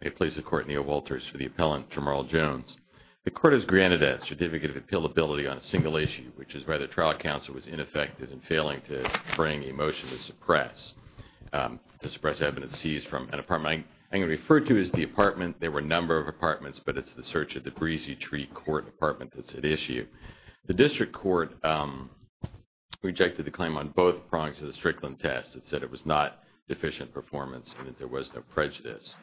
May it please the court, Neil Walters for the appellant Jermarl Jones. The court has granted a certificate of appealability on a single issue, which is why the trial counsel was ineffective in failing to bring a motion to suppress evidence seized from an apartment. I'm going to refer to it as the apartment. There were a number of apartments, but it's the search of the breezy tree court apartment that's at issue. The district court rejected the claim on both prongs of the Strickland test and said it was not deficient performance and that there was no prejudice.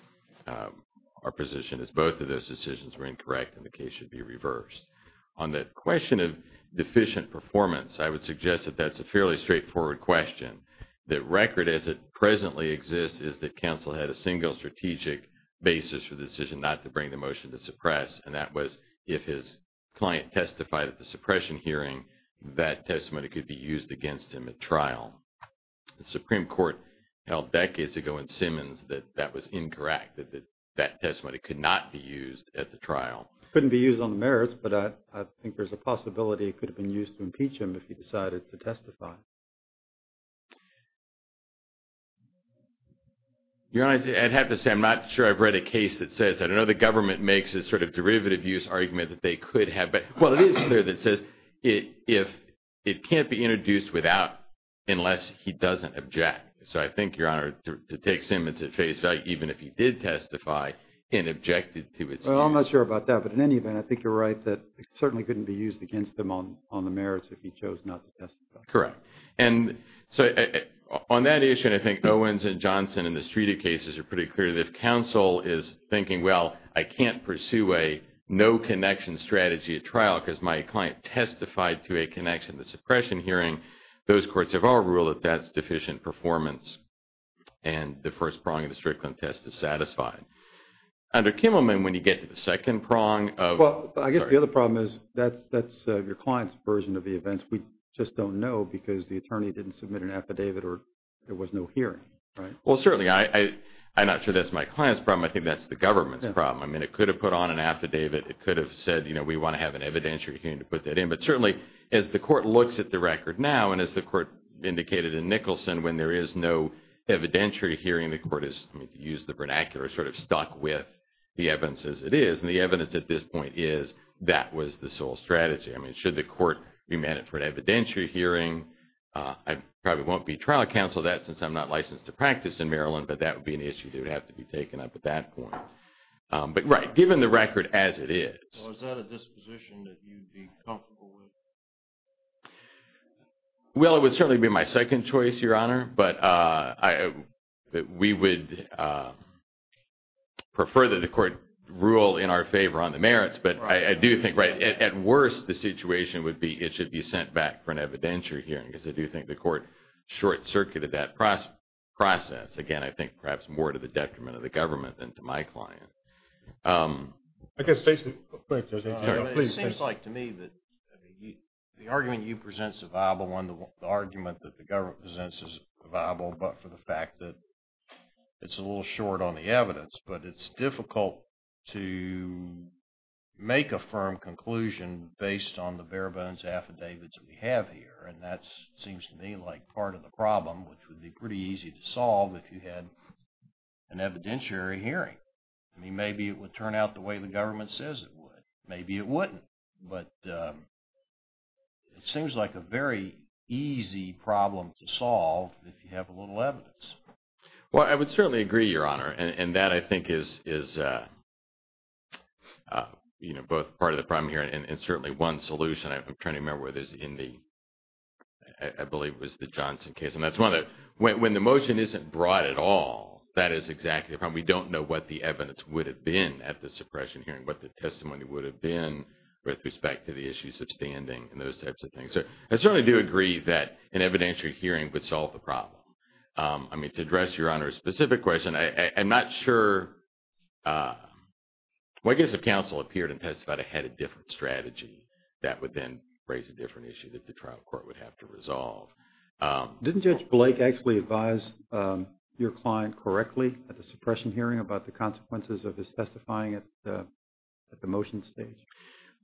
Our position is both of those decisions were incorrect and the case should be reversed. On the question of deficient performance, I would suggest that that's a fairly straightforward question. The record as it presently exists is that counsel had a single strategic basis for the decision not to bring the motion to suppress, and that was if his client testified at the suppression hearing, that testimony could be used against him at trial. The Supreme Court held decades ago in Simmons that that was incorrect, that that testimony could not be used at the trial. Couldn't be used on the merits, but I think there's a possibility it could have been used to impeach him if he decided to testify. Your Honor, I'd have to say I'm not sure I've read a case that says, I don't know the government makes this sort of derivative use argument that they could have, but what it is clear that says it can't be introduced without, unless he doesn't object. So I think, Your Honor, to take Simmons at face value, even if he did testify and objected to it. Well, I'm not sure about that, but in any event, I think you're right that it certainly couldn't be used against them on the merits if he chose not to testify. Correct. And so on that issue, and I think Owens and Johnson and the Streeter cases are pretty clear that counsel is can't pursue a no connection strategy at trial because my client testified to a connection, the suppression hearing. Those courts have all ruled that that's deficient performance and the first prong of the Strickland test is satisfied. Under Kimmelman, when you get to the second prong of- Well, I guess the other problem is that's your client's version of the events. We just don't know because the attorney didn't submit an affidavit or there was no hearing, right? Well, certainly, I'm not sure that's my client's problem. I think that's the government's problem. I mean, it could have put on an affidavit. It could have said, we want to have an evidentiary hearing to put that in. But certainly, as the court looks at the record now, and as the court indicated in Nicholson, when there is no evidentiary hearing, the court is, I mean, to use the vernacular, sort of stuck with the evidence as it is. And the evidence at this point is that was the sole strategy. I mean, should the court remand it for an evidentiary hearing, I probably won't be trial counsel of that since I'm not licensed to practice in Maryland, but that would be an issue that would have to be taken up at that point. But right, given the record as it is. Well, is that a disposition that you'd be comfortable with? Well, it would certainly be my second choice, Your Honor, but we would prefer that the court rule in our favor on the merits. But I do think, right, at worst, the situation would be it should be sent back for an evidentiary hearing because I do think the court short-circuited that process. Again, I think perhaps more to the detriment of the government than to my client. It seems like to me that the argument you present is a viable one. The argument that the government presents is viable, but for the fact that it's a little short on the evidence. But it's difficult to make a firm conclusion based on the bare-bones affidavits that we have here. And that seems to me like part of the problem, which would be pretty easy to solve if you had an evidentiary hearing. I mean, maybe it would turn out the way the government says it would. Maybe it wouldn't. But it seems like a very easy problem to solve if you have a little evidence. Well, I would certainly agree, Your Honor. And that, I think, is both part of the problem here and certainly one solution. I'm trying to remember whether it's in the, I believe it was the Johnson case. And that's one of the, when the motion isn't broad at all, that is exactly the problem. We don't know what the evidence would have been at the suppression hearing, what the testimony would have been with respect to the issues of standing and those types of things. So I certainly do agree that an evidentiary hearing would solve the problem. I mean, to address, Your Honor, a specific question, I'm not sure, well, I guess if counsel appeared and testified ahead of a different strategy, that would then raise a different issue that the trial court would have to resolve. Didn't Judge Blake actually advise your client correctly at the suppression hearing about the consequences of his testifying at the motion stage?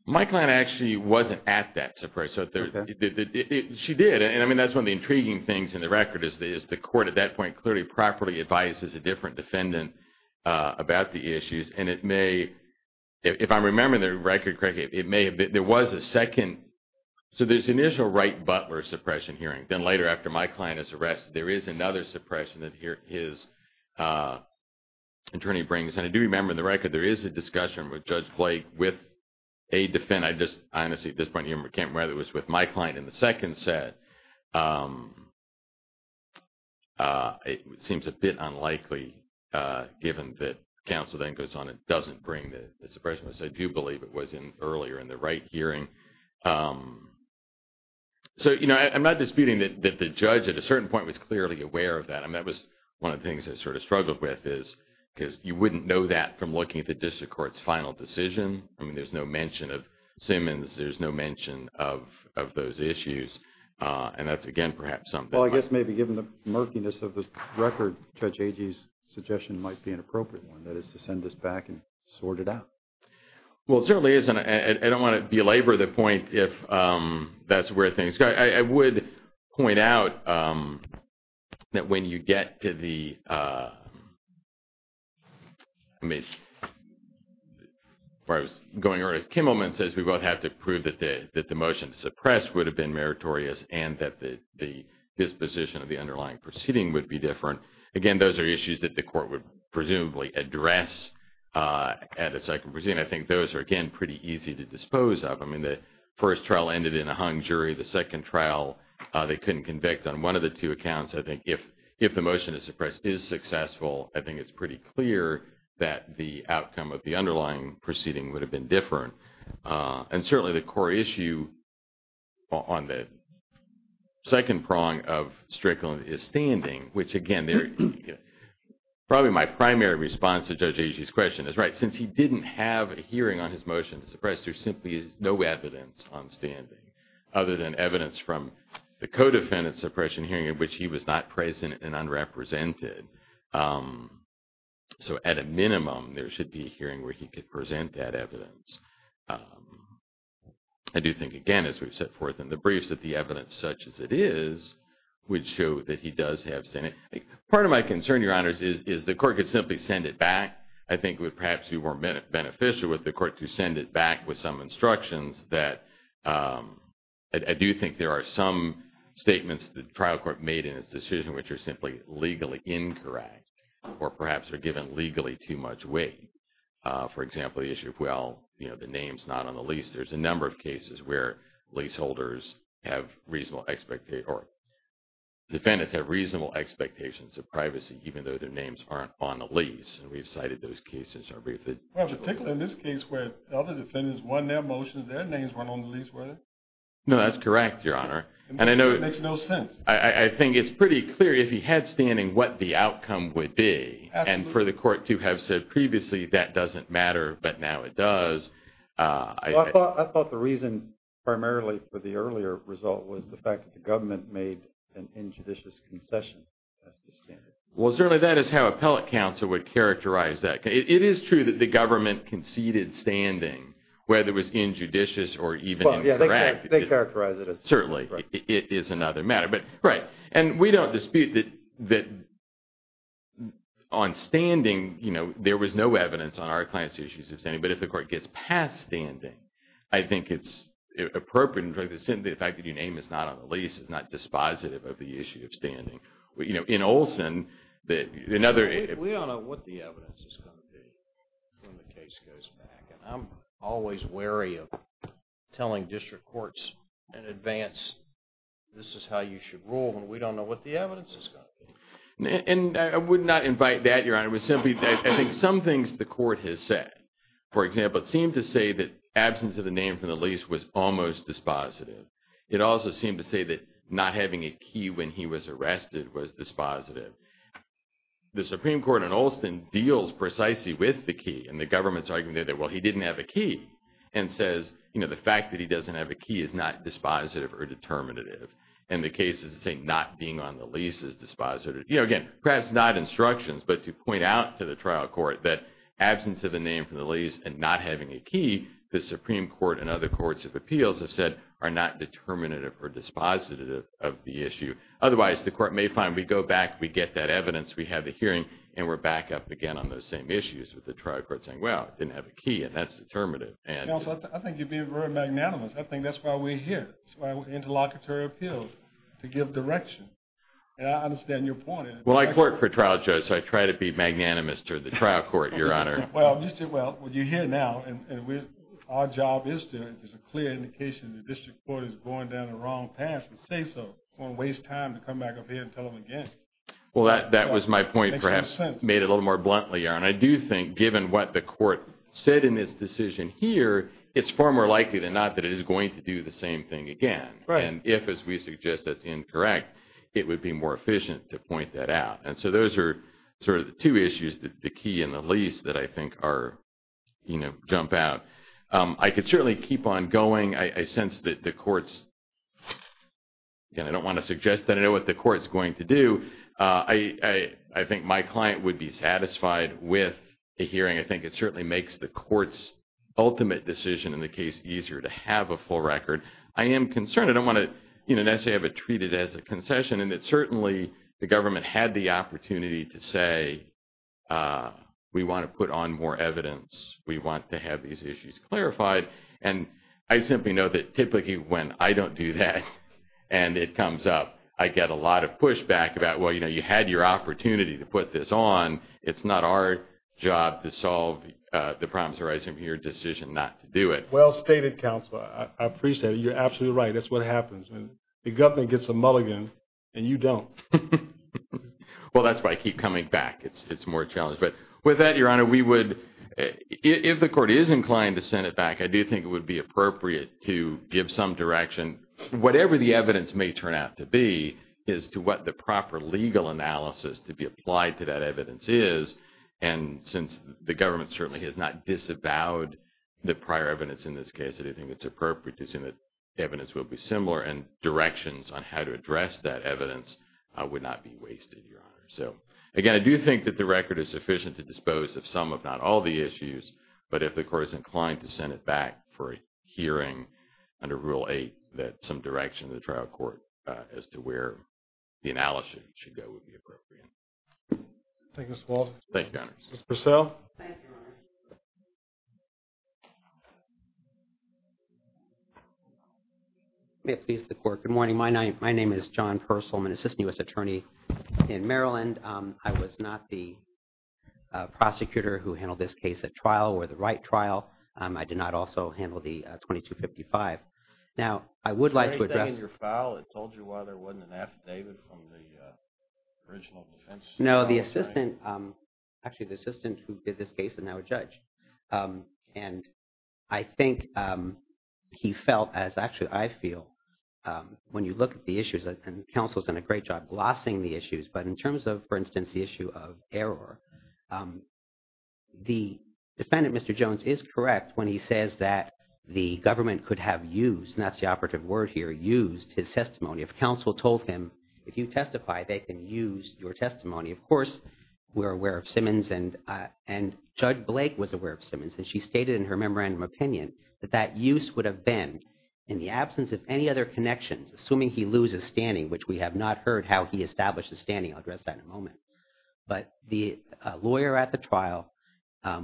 My client actually wasn't at that suppression hearing. She did. And I mean, that's one of the intriguing things in the record is the court at that point clearly properly advises a different defendant about the issues. And it may, if I remember the record correctly, it may have been, there was a second, so there's initial Wright-Butler suppression hearing. Then later, after my client is arrested, there is another suppression that his attorney brings. And I do remember in the record, there is a discussion with Judge Blake with a defendant. I just, honestly, at this point, I can't remember whether it was with my client in the second set. It seems a bit unlikely, given that counsel then goes on and doesn't bring the suppression, which I do believe it was in earlier in the Wright hearing. So, you know, I'm not disputing that the judge at a certain point was clearly aware of that. I mean, that was one of the things I sort of struggled with is, because you wouldn't know that from looking at the district court's final decision. I mean, there's no mention of Simmons. There's no mention of those issues. And that's, again, perhaps something- Well, I guess maybe given the murkiness of the record, Judge Agee's suggestion might be an appropriate one, that is to send this back and sort it out. Well, it certainly is. And I don't want to belabor the point if that's where things go. I would point out that when you get to the- I mean, where I was going earlier, Kimmelman says we both have to prove that the motion to suppress would have been meritorious and that the disposition of the underlying proceeding would be different. Again, those are issues that the court would presumably address at a second proceeding. I think those are, again, pretty easy to dispose of. I mean, first trial ended in a hung jury. The second trial, they couldn't convict on one of the two accounts. I think if the motion to suppress is successful, I think it's pretty clear that the outcome of the underlying proceeding would have been different. And certainly, the core issue on the second prong of Strickland is standing, which, again, probably my primary response to Judge Agee's question is, right, since he didn't have a hearing on his motion to suppress, there simply is no evidence on standing other than evidence from the co-defendant suppression hearing in which he was not present and unrepresented. So at a minimum, there should be a hearing where he could present that evidence. I do think, again, as we've set forth in the briefs, that the evidence such as it is would show that he does have standing. Part of my concern, Your Honors, is the court could simply send it back. I think it would perhaps be more beneficial with the court to send it back with some instructions that I do think there are some statements the trial court made in its decision which are simply legally incorrect or perhaps are given legally too much weight. For example, the issue of, well, you know, the name's not on the lease. There's a number of cases where leaseholders have reasonable or defendants have reasonable expectations of privacy, even though their names aren't on the lease. And we've cited those cases in our briefing. Well, particularly in this case where other defendants won their motions, their names weren't on the lease, were they? No, that's correct, Your Honor. It makes no sense. I think it's pretty clear if he had standing what the outcome would be. Absolutely. And for the court to have said previously, that doesn't matter, but now it does. I thought the reason primarily for the earlier result was the fact that the government made an injudicious concession. That's the standard. Well, certainly that is how appellate counsel would characterize that. It is true that the government conceded standing, whether it was injudicious or even incorrect. Well, yeah, they characterize it as... Certainly. It is another matter. But, right. And we don't dispute that on standing, you know, there was no evidence on our client's issues of standing. But if the court gets past standing, I think it's appropriate. In fact, the fact that your name is not on the lease is not dispositive of the issue of standing. You know, in Olson, another... We don't know what the evidence is going to be when the case goes back. And I'm always wary of telling district courts in advance, this is how you should rule, and we don't know what the evidence is going to be. And I would not invite that, Your Honor. It was simply, I think, some things the court has said. For example, it seemed to say that absence of the name from the lease was almost dispositive. It also seemed to say that not having a key when he was arrested was dispositive. The Supreme Court in Olson deals precisely with the key. And the government's arguing there that, well, he didn't have a key, and says, you know, the fact that he doesn't have a key is not dispositive or determinative. And the cases that say not being on the lease is dispositive. You know, again, perhaps not instructions, but to point out to the trial court that absence of name from the lease and not having a key, the Supreme Court and other courts of appeals have said are not determinative or dispositive of the issue. Otherwise, the court may find we go back, we get that evidence, we have a hearing, and we're back up again on those same issues with the trial court saying, well, didn't have a key, and that's determinative. And... Counselor, I think you're being very magnanimous. I think that's why we're here. It's why we're interlocutory appeals, to give direction. And I understand your point. Well, I court for trial judge, so I try to be magnanimous to the trial court, Your Honor. Well, you're here now, and our job is to, there's a clear indication the district court is going down the wrong path to say so. Don't waste time to come back up here and tell them again. Well, that was my point, perhaps made a little more bluntly, Your Honor. I do think given what the court said in this decision here, it's far more likely than not that it is going to do the same thing again. And if, as we suggest, that's incorrect, it would be more efficient to point that out. And so those are sort of the two issues, the key and the least, that I think are, you know, jump out. I could certainly keep on going. I sense that the court's... Again, I don't want to suggest that I know what the court's going to do. I think my client would be satisfied with a hearing. I think it certainly makes the court's ultimate decision in the case easier to have a full record. I am concerned. I don't want to treat it as a concession and that certainly the government had the opportunity to say, we want to put on more evidence. We want to have these issues clarified. And I simply know that typically when I don't do that and it comes up, I get a lot of pushback about, well, you know, you had your opportunity to put this on. It's not our job to solve the problems arising from your decision not to do it. Well stated, Counselor. I appreciate it. You're absolutely right. That's what happens when the government gets a mulligan and you don't. Well, that's why I keep coming back. It's more challenging. But with that, Your Honor, we would, if the court is inclined to send it back, I do think it would be appropriate to give some direction, whatever the evidence may turn out to be, as to what the proper legal analysis to be applied to that evidence is. And since the government certainly has not disavowed the prior evidence in this case, I do think it's appropriate to assume that evidence will be similar and directions on how to address that evidence would not be wasted, Your Honor. So again, I do think that the record is sufficient to dispose of some, if not all, the issues. But if the court is inclined to send it back for a hearing under Rule 8, that some direction to the trial court as to where the analysis should go would be appropriate. Thank you, Mr. Walden. Thank you, Your Honor. Ms. Purcell. Thank you, Your Honor. May it please the court. Good morning. My name is John Purcell. I'm an assistant U.S. attorney in Maryland. I was not the prosecutor who handled this case at trial or the right trial. I did not also handle the 2255. Now, I would like to address... Is there anything in your file that told you why there wasn't an affidavit from the original defense? No, the assistant, actually, the assistant who did this case is now a judge. And I think he felt, as actually I feel, when you look at the issues, and counsel's done a great job glossing the issues, but in terms of, for instance, the issue of error, the defendant, Mr. Jones, is correct when he says that the government could have used, and that's the operative word here, used his testimony. If counsel told him, if you testify, they can use your testimony. Of course, we're aware of Simmons, and Judge Blake was aware of Simmons, and she stated in her memorandum opinion that that use would have been in the absence of any other connections, assuming he loses standing, which we have not heard how he established his standing. I'll address that in a moment. But the lawyer at the trial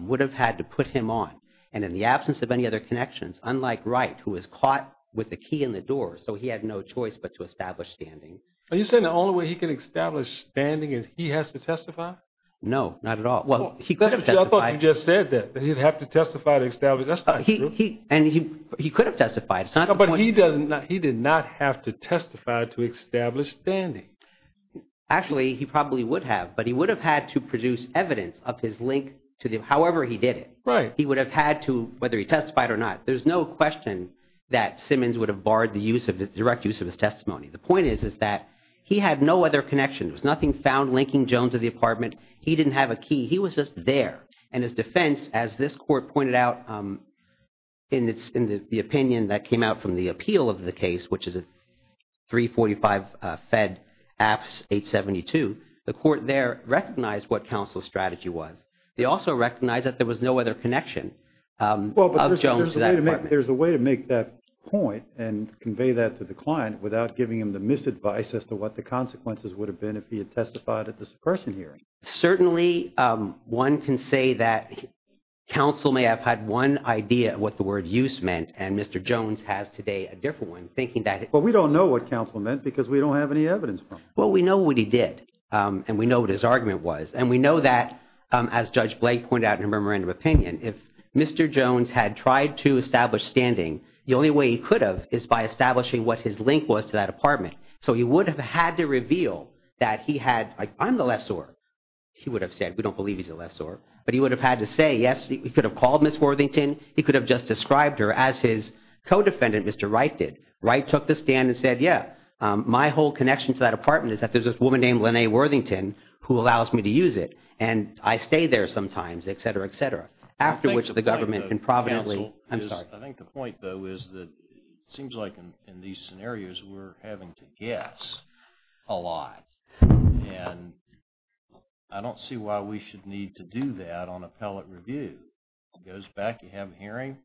would have had to put him on. And in the absence of any other connections, unlike Wright, who was caught with a key in the door, so he had no choice but to establish standing. Are you saying the only way he can establish standing is he has to testify? No, not at all. Well, he could have testified. I thought you just said that, that he'd have to testify to establish. That's not true. And he could have testified. It's not the point. No, but he did not have to testify to establish standing. Actually, he probably would have, but he would have had to produce evidence of his link to the, however he did it. He would have had to, whether he testified or not. There's no question that Simmons would have barred the use of his, direct use of his testimony. The point is, is that he had no other connections. There was nothing found linking Jones to the apartment. He didn't have a key. He was just there. And his defense, as this court pointed out in the opinion that came out from the appeal of the case, which is 345 Fed Apps 872, the court there recognized what counsel's strategy was. They also recognized that there was no other connection of Jones to that apartment. There's a way to make that point and convey that to the client without giving him the misadvice as to what the consequences would have been if he had testified at the suppression here. Certainly one can say that counsel may have had one idea of what the word use meant. And Mr. Jones has today a different one thinking that. But we don't know what counsel meant because we don't have any evidence. Well, we know what he did. And we know what his argument was. And we know that as Judge Blake pointed out in her memorandum opinion, if Mr. Jones had tried to establish standing, the only way he could have is by establishing what his link was to that apartment. So he would have had to reveal that he had, like, I'm the lessor. He would have said, we don't believe he's a lessor. But he would have had to say, yes, he could have called Ms. Worthington. He could have just described her as his co-defendant, Mr. Wright did. Wright took the stand and said, yeah, my whole connection to that apartment is that there's a woman named Lene Worthington who allows me to use it. And I stay there sometimes, et cetera, et cetera, after which the government can probably, I'm sorry. I think the point, though, is that it seems like in these scenarios, we're having to guess a lot. And I don't see why we should need to do that on appellate review. Goes back, you have a hearing,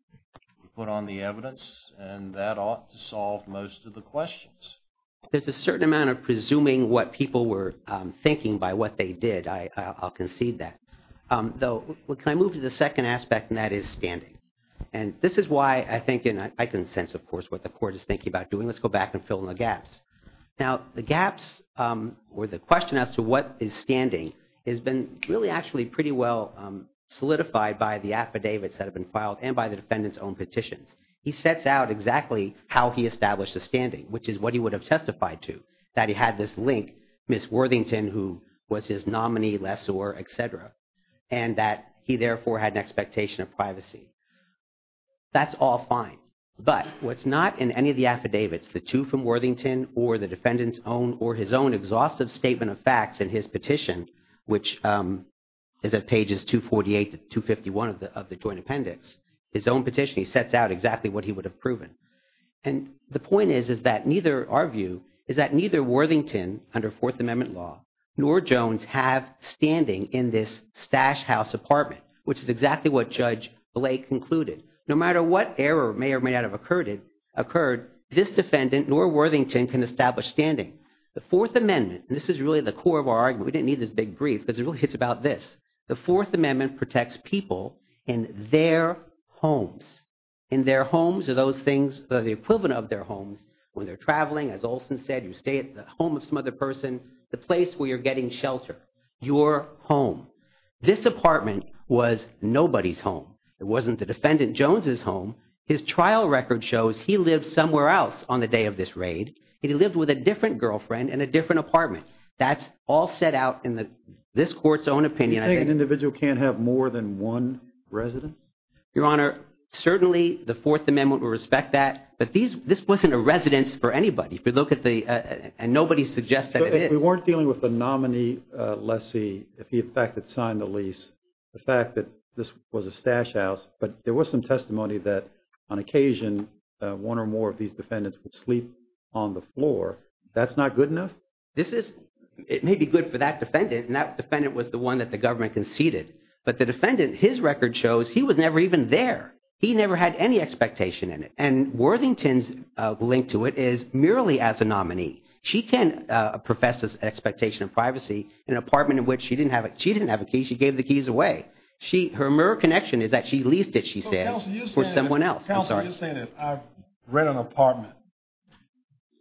you put on the evidence, and that ought to solve most of the questions. There's a certain amount of presuming what people were thinking by what they did. I'll concede that. Though, can I move to the second aspect, and that is standing. And this is why I think, and I can sense, of course, what the court is thinking about doing. Let's go back and fill in the gaps. Now, the gaps, or the question as to what is standing, has been really actually pretty well solidified by the affidavits that have been filed and by the defendant's own petitions. He sets out exactly how he established a standing, which is what he would have testified to, that he had this link, Ms. Worthington, who was his nominee, lessor, et cetera, and that he, therefore, had an expectation of privacy. That's all fine. But what's not in any of the affidavits, the two from Worthington or the defendant's own or his own exhaustive statement of facts in his petition, which is at pages 248 to 251 of the joint appendix, his own petition, he sets out exactly what he would have proven. And the point is, is that neither, our view, is that neither Worthington, under Fourth Amendment law, nor Jones have standing in this Stash House apartment, which is exactly what Judge Blake concluded. No matter what error may or may not have occurred, this defendant nor Worthington can establish standing. The Fourth Amendment, and this is really the core of our big brief, because it really hits about this. The Fourth Amendment protects people in their homes. In their homes are those things, the equivalent of their homes, when they're traveling, as Olson said, you stay at the home of some other person, the place where you're getting shelter, your home. This apartment was nobody's home. It wasn't the defendant Jones's home. His trial record shows he lived somewhere else on the day of this raid, and he lived with a this court's own opinion. You're saying an individual can't have more than one residence? Your Honor, certainly the Fourth Amendment would respect that, but this wasn't a residence for anybody. If you look at the, and nobody suggests that it is. We weren't dealing with the nominee lessee, if he in fact had signed the lease. The fact that this was a Stash House, but there was some testimony that on occasion, one or more of these defendants would sleep on the floor. That's not good enough? This is, it may be good for that defendant, and that defendant was the one that the government conceded. But the defendant, his record shows he was never even there. He never had any expectation in it. And Worthington's link to it is merely as a nominee. She can profess this expectation of privacy in an apartment in which she didn't have a key, she gave the keys away. Her mere connection is that she leased it, she says, for someone else. I've read an apartment.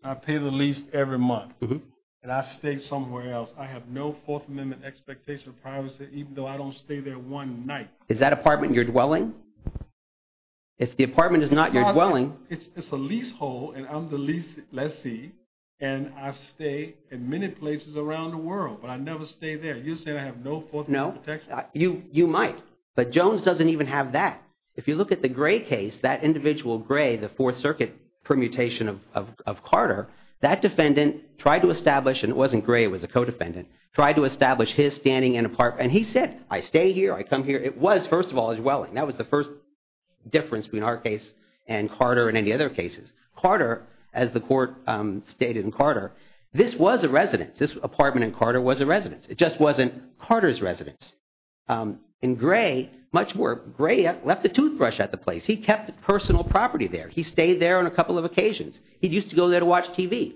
I pay the lease every month, and I stay somewhere else. I have no Fourth Amendment expectation of privacy, even though I don't stay there one night. Is that apartment you're dwelling? If the apartment is not your dwelling. It's a leasehold, and I'm the lease lessee, and I stay in many places around the world, but I never stay there. You're saying I have no Fourth Amendment protection? You might, but Jones doesn't even have that. If you look at the Gray case, that individual Gray, the Fourth Circuit permutation of Carter, that defendant tried to establish, and it wasn't Gray, it was a co-defendant, tried to establish his standing in an apartment. And he said, I stay here, I come here. It was, first of all, his dwelling. That was the first difference between our case and Carter and any other cases. Carter, as the court stated in Carter, this was a residence. This apartment in Carter was a residence. And Gray, much more, Gray left a toothbrush at the place. He kept personal property there. He stayed there on a couple of occasions. He used to go there to watch TV,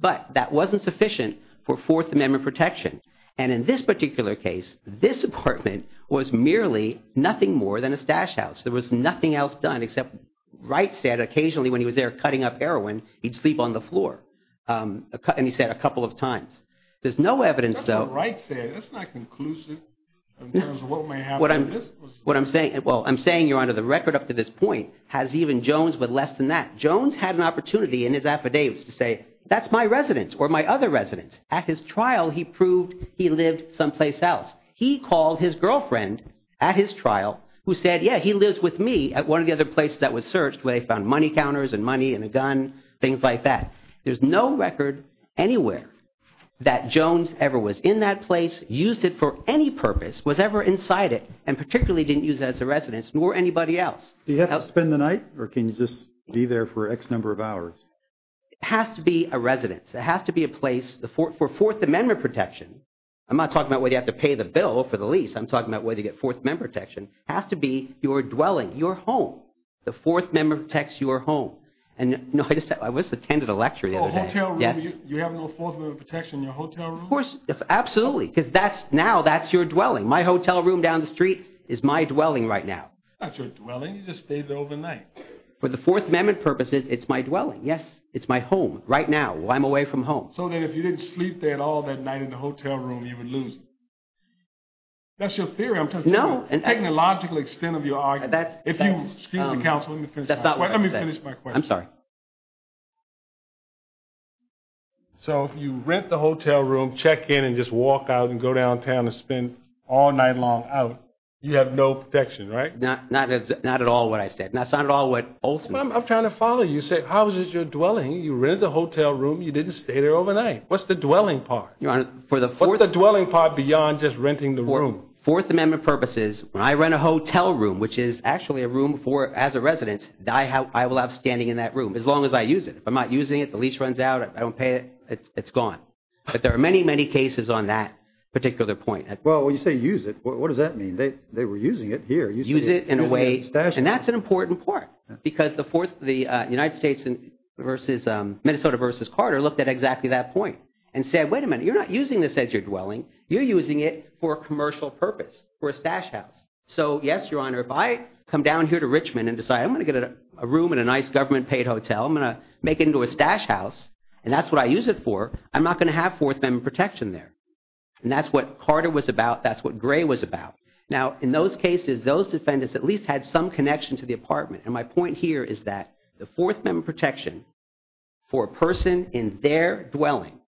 but that wasn't sufficient for Fourth Amendment protection. And in this particular case, this apartment was merely nothing more than a stash house. There was nothing else done except Wright said occasionally when he was there cutting up heroin, he'd sleep on the floor. And he said a couple of times. There's no evidence, though. Wright said, that's not conclusive in terms of what may happen. What I'm saying, well, I'm saying you're under the record up to this point, has even Jones, but less than that. Jones had an opportunity in his affidavits to say, that's my residence or my other residence. At his trial, he proved he lived someplace else. He called his girlfriend at his trial who said, yeah, he lives with me at one of the other places that was searched where they found money counters and money and a gun, things like that. There's no evidence that he ever was in that place, used it for any purpose, was ever inside it and particularly didn't use it as a residence nor anybody else. Do you have to spend the night or can you just be there for X number of hours? It has to be a residence. It has to be a place for Fourth Amendment protection. I'm not talking about whether you have to pay the bill for the lease. I'm talking about whether you get Fourth Amendment protection. It has to be your dwelling, your home. The Fourth Amendment protects your home. And I was attending a lecture the other day. You have no Fourth Amendment protection in your hotel room? Of course. Absolutely. Because now that's your dwelling. My hotel room down the street is my dwelling right now. That's your dwelling? You just stayed there overnight. For the Fourth Amendment purposes, it's my dwelling. Yes. It's my home right now. I'm away from home. So then if you didn't sleep there at all that night in the hotel room, you would lose it. That's your theory. I'm talking about the technological extent of your argument. That's not what I said. Let me finish my question. I'm sorry. So if you rent the hotel room, check in, and just walk out, and go downtown, and spend all night long out, you have no protection, right? Not at all what I said. That's not at all what Olson said. I'm trying to follow you. You said, how is it your dwelling? You rented the hotel room. You didn't stay there overnight. What's the dwelling part? Your Honor, for the Fourth— What's the dwelling part beyond just renting the room? Fourth Amendment purposes, when I rent a hotel room, which is actually a room for—as a resident, I will have standing in that room as long as I use it. If I'm not using it, the lease runs out, I don't pay it, it's gone. But there are many, many cases on that particular point. Well, when you say use it, what does that mean? They were using it here. Use it in a way— And that's an important part, because the United States versus—Minnesota versus Carter looked at exactly that point and said, wait a minute, you're not using this as your dwelling. You're using it for a commercial purpose, for a stash house. So yes, Your Honor, if I come down here to Richmond and decide I'm going to get a room in a nice government-paid hotel, I'm going to make it into a stash house, and that's what I use it for, I'm not going to have Fourth Amendment protection there. And that's what Carter was about. That's what Gray was about. Now, in those cases, those defendants at least had some connection to the apartment. And my point here is that the Fourth Amendment protection for a person in their dwelling,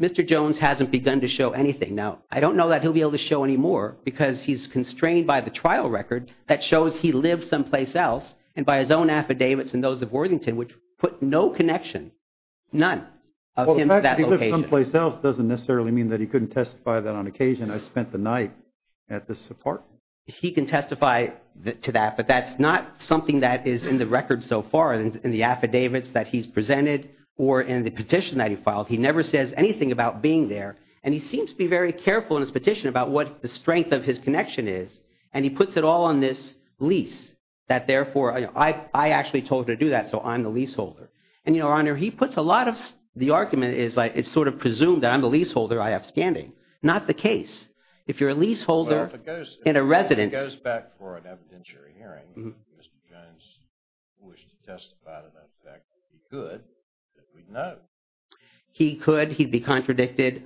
Mr. Jones hasn't begun to show anything. Now, I don't know that he'll be able to show any more, because he's constrained by the affidavits and those of Worthington, which put no connection, none, of him to that location. Well, the fact that he lived someplace else doesn't necessarily mean that he couldn't testify that on occasion. I spent the night at this apartment. He can testify to that, but that's not something that is in the record so far in the affidavits that he's presented or in the petition that he filed. He never says anything about being there. And he seems to be very careful in his petition about what the strength of his connection is. And he puts it all on this lease, that, therefore, I actually told her to do that, so I'm the leaseholder. And, Your Honor, he puts a lot of the argument is like, it's sort of presumed that I'm the leaseholder, I have standing. Not the case. If you're a leaseholder in a residence... If it goes back for an evidentiary hearing, Mr. Jones wished to testify to the fact that he could, that we'd know. He could. He'd be contradicted.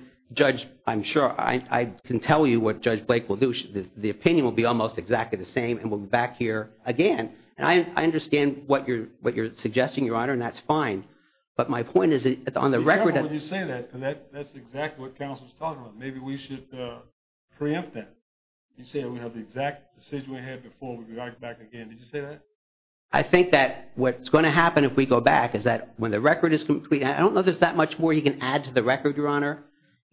I'm sure I can tell you what Judge Blake will do. The opinion will be almost exactly the same, and we'll be back here again. And I understand what you're suggesting, Your Honor, and that's fine. But my point is, on the record... Be careful when you say that, because that's exactly what counsel's talking about. Maybe we should preempt that. You say we have the exact decision we had before, we'd be right back again. Did you say that? I think that what's going to happen if we go back is that when the record is complete... I don't know there's that much more you can add to the record, Your Honor,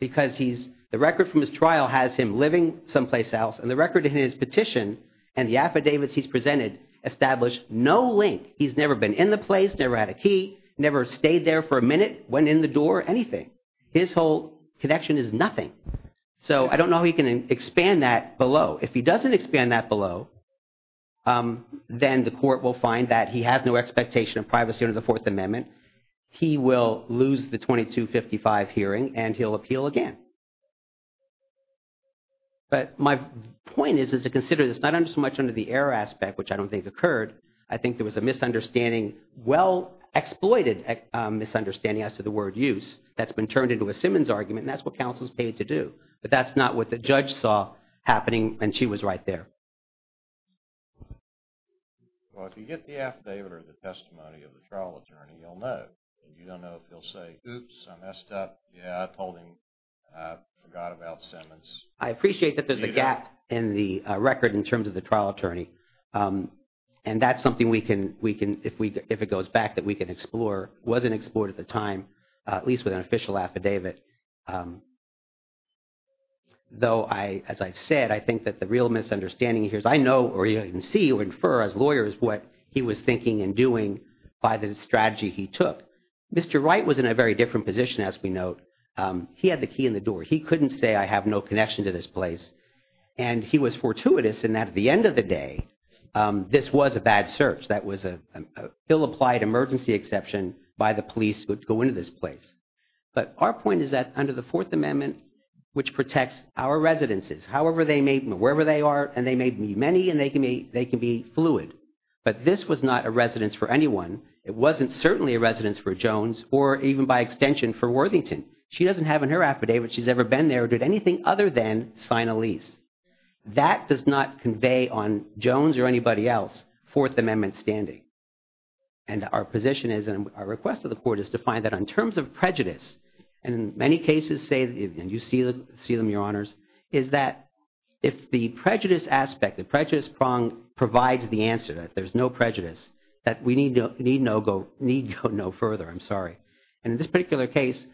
because the record from his trial has him living someplace else, and the record in his petition and the affidavits he's presented establish no link. He's never been in the place, never had a key, never stayed there for a minute, went in the door, anything. His whole connection is nothing. So I don't know how he can expand that below. If he doesn't expand that below, then the court will find that he has no expectation of privacy under the Fourth Amendment. He will lose the 2255 hearing, and he'll appeal again. But my point is to consider this not so much under the error aspect, which I don't think occurred. I think there was a misunderstanding, well-exploited misunderstanding as to the word use, that's been turned into a Simmons argument, and that's what counsel's paid to do. But that's not what the judge saw happening, and she was right there. Well, if you get the affidavit or the testimony of the trial attorney, you don't know if he'll say, oops, I messed up. Yeah, I pulled him, forgot about Simmons. I appreciate that there's a gap in the record in terms of the trial attorney. And that's something we can, if it goes back, that we can explore, wasn't explored at the time, at least with an official affidavit. Though, as I've said, I think that the real misunderstanding here is I know, or you can see or infer as lawyers what he was thinking and doing by the strategy he took. Mr. Wright was in a very different position, as we note. He had the key in the door. He couldn't say, I have no connection to this place. And he was fortuitous in that at the end of the day, this was a bad search. That was an ill-applied emergency exception by the police who would go into this place. But our point is that under the Fourth Amendment, which protects our residences, however they may, wherever they are, and they may be many, and they can be fluid. But this was not a residence for anyone. It wasn't certainly a residence for Jones or even by extension for Worthington. She doesn't have in her affidavit she's ever been there or did anything other than sign a lease. That does not convey on Jones or anybody else Fourth Amendment standing. And our position is, and our request of the Court is to find that in terms of prejudice, and in many cases say, and you see them, Your Honors, is that if the prejudice aspect, the prejudice prong provides the answer, that there's no prejudice, that we need go no further. I'm sorry. And in this particular case,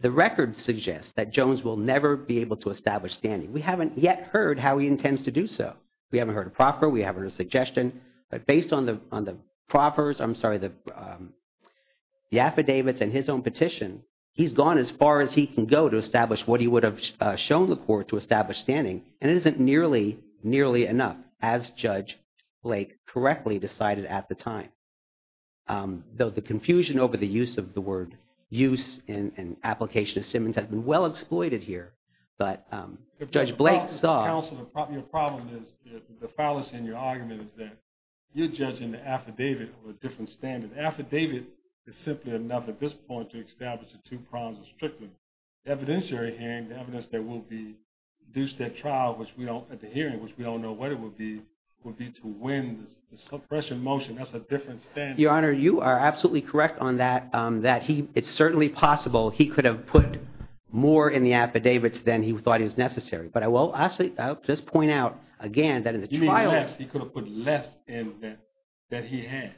the record suggests that Jones will never be able to establish standing. We haven't yet heard how he intends to do so. We haven't heard a proffer. We haven't heard a suggestion. But based on the proffers, I'm sorry, the affidavits and his own petition, he's gone as far as he can go to establish what he would have shown the Court to establish standing. And it isn't nearly, nearly enough, as Judge Blake correctly decided at the time. Though the confusion over the use of the word, use in an application of Simmons has been well exploited here. But Judge Blake saw... Counselor, your problem is, the fallacy in your argument is that you're judging the affidavit of a different standard. Affidavit is simply enough at this point to establish the two prongs of Strickland. The evidentiary hearing, the evidence that will be due to that trial, at the hearing, which we don't know what it will be, will be to win the suppression motion. That's a different standard. Your Honor, you are absolutely correct on that. It's certainly possible he could have put more in the affidavits than he thought is necessary. But I will just point out again that in the trial... He could have put less in that he had.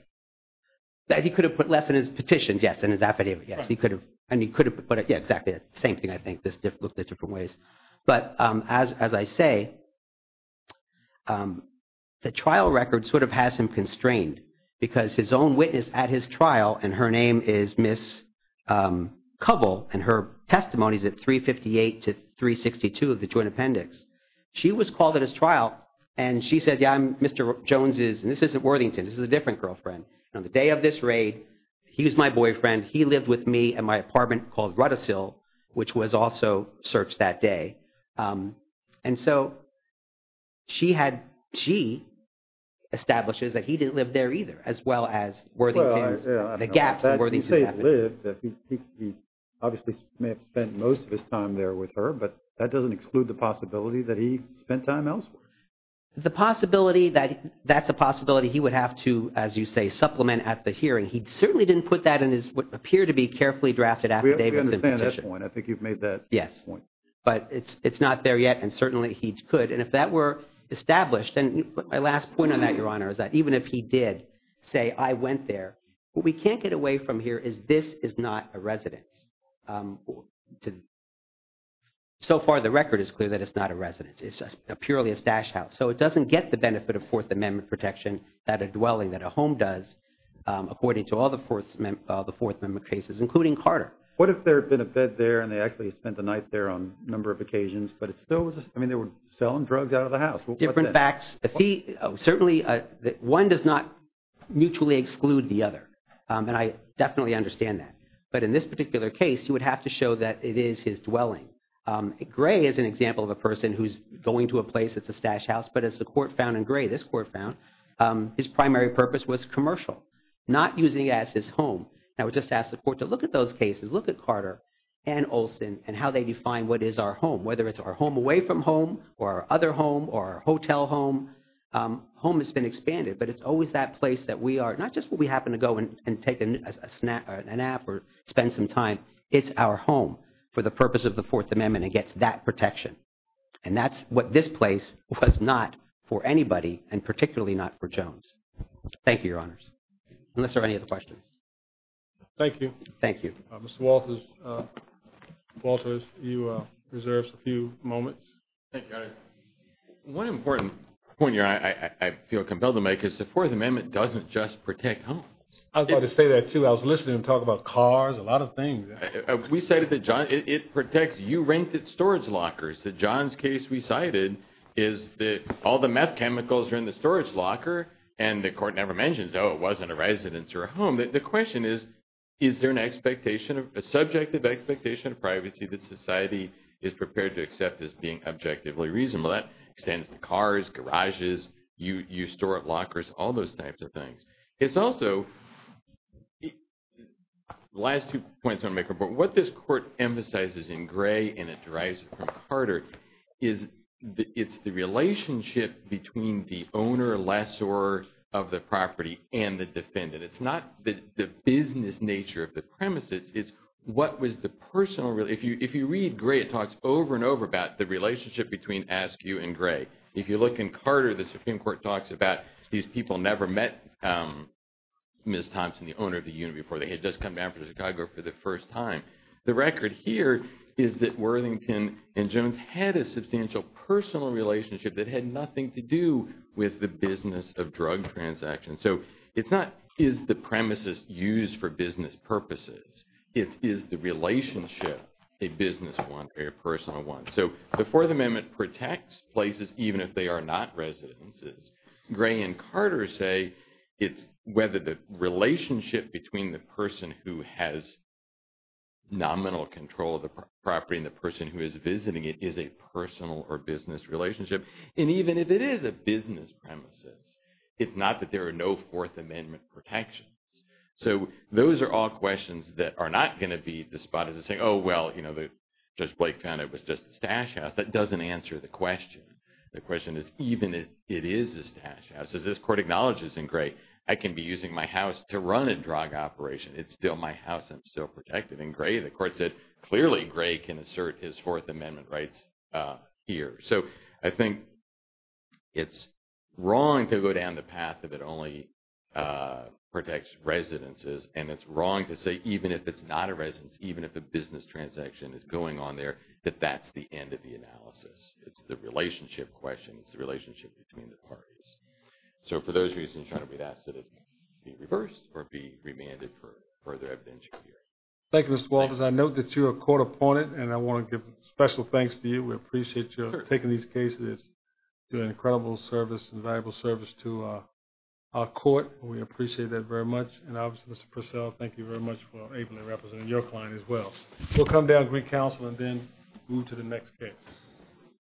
That he could have put less in his petitions, yes, in his affidavit, yes. He could have. But yeah, exactly the same thing, I think. This looked at different ways. But as I say, the trial record sort of has him constrained because his own witness at his trial, and her name is Ms. Covell, and her testimony is at 358 to 362 of the joint appendix. She was called at his trial, and she said, yeah, Mr. Jones is... And this isn't Worthington. This is a different girlfriend. On the day of this raid, he was my boyfriend. He lived with me at my apartment called Ruddasil, which was also searched that day. And so she had... She establishes that he didn't live there either, as well as Worthington's... The gaps in Worthington's affidavit. He obviously may have spent most of his time there with her, but that doesn't exclude the possibility that he spent time elsewhere. The possibility that... That's a possibility he would have to, as you say, supplement at the hearing. He certainly didn't put that in his what appeared to be carefully drafted affidavit. We understand that point. I think you've made that point. Yes. But it's not there yet, and certainly he could. And if that were established... And my last point on that, Your Honor, is that even if he did say, I went there, what we can't get away from here is this is not a residence. So far, the record is clear that it's not a residence. It's just purely a stash house. So it doesn't get the benefit of Fourth Amendment protection that a dwelling, that a home does, according to all the Fourth Amendment cases, including Carter. What if there had been a bed there and they actually spent the night there on a number of occasions, but it still was... I mean, they were selling drugs out of the house. Different facts. Certainly, one does not mutually exclude the other, and I definitely understand that. But in this particular case, you would have to show that it is his dwelling. Gray is an example of a person who's going to a place that's a stash house, but as the court found in Gray, this court found, his primary purpose was commercial, not using it as his home. And I would just ask the court to look at those cases, look at Carter and Olson, and how they define what is our home, whether it's our home away from home, or our other home, or our hotel home. Home has been expanded, but it's always that place that we are, not just where we happen to go and take a nap or spend some time. It's our home for the purpose of the Fourth Amendment. It gets that protection. And that's what this place was not for anybody, and particularly not for Jones. Thank you, Your Honors. Unless there are any other questions. Thank you. Thank you. Mr. Walters, you reserve a few moments. One important point here, I feel compelled to make, is the Fourth Amendment doesn't just protect homes. I was about to say that too. I was listening to him talk about cars, a lot of things. We cited that it protects U-ranked storage lockers. John's case we cited is that all the meth chemicals are in the storage locker, and the court never mentions, oh, it wasn't a residence or a home. The question is, is there a subjective expectation of privacy that society is prepared to accept as being objectively reasonable? That extends to cars, garages, U-store of lockers, all those types of things. It's also, the last two points I want to make are important. What this court emphasizes in Gray, and it derives from Carter, is it's the relationship between the owner, lessor of the property, and the defendant. It's not the business nature of the premises. It's what was the personal, if you read Gray, it talks over and over about the relationship between Askew and Gray. If you look in Carter, the Supreme Court talks about these people never met Ms. Thompson, the owner of the unit, before they had just come down from Chicago for the first time. The record here is that Worthington and Jones had a substantial personal relationship that had nothing to do with the business of drug transactions. So it's not, is the premises used for business purposes? It is the relationship, a business one, a personal one. So the Fourth Amendment protects places, even if they are not residences. Gray and Carter say it's whether the relationship between the person who has nominal control of the property and the person who is visiting it is a personal or business relationship. And even if it is a business premises, it's not that there are no Fourth Amendment protections. So those are all questions that are not going to be despised as saying, oh, well, Judge Blake found it was just a stash house. That doesn't answer the question. The question is, even if it is a stash house, as this court acknowledges in Gray, I can be using my house to run a drug operation. It's still my house. I'm still protected. And Gray, the court said, clearly Gray can assert his Fourth Amendment rights here. So I think it's wrong to go down the path of it only protects residences. And it's wrong to say, even if it's not a residence, even if a business transaction is going on there, that that's the end of the analysis. It's the relationship question. It's the relationship between the parties. So for those reasons, we'd ask that it be reversed or be remanded for further evidential hearing. Thank you, Mr. Walters. I note that you're a court opponent, and I want to give special thanks to you. We appreciate you taking these cases. It's been an incredible service and valuable service to our court. We appreciate that very much. And obviously, Mr. Purcell, thank you very much for ably representing your client as well. We'll come down to recounsel and then move to the next case. Thank you.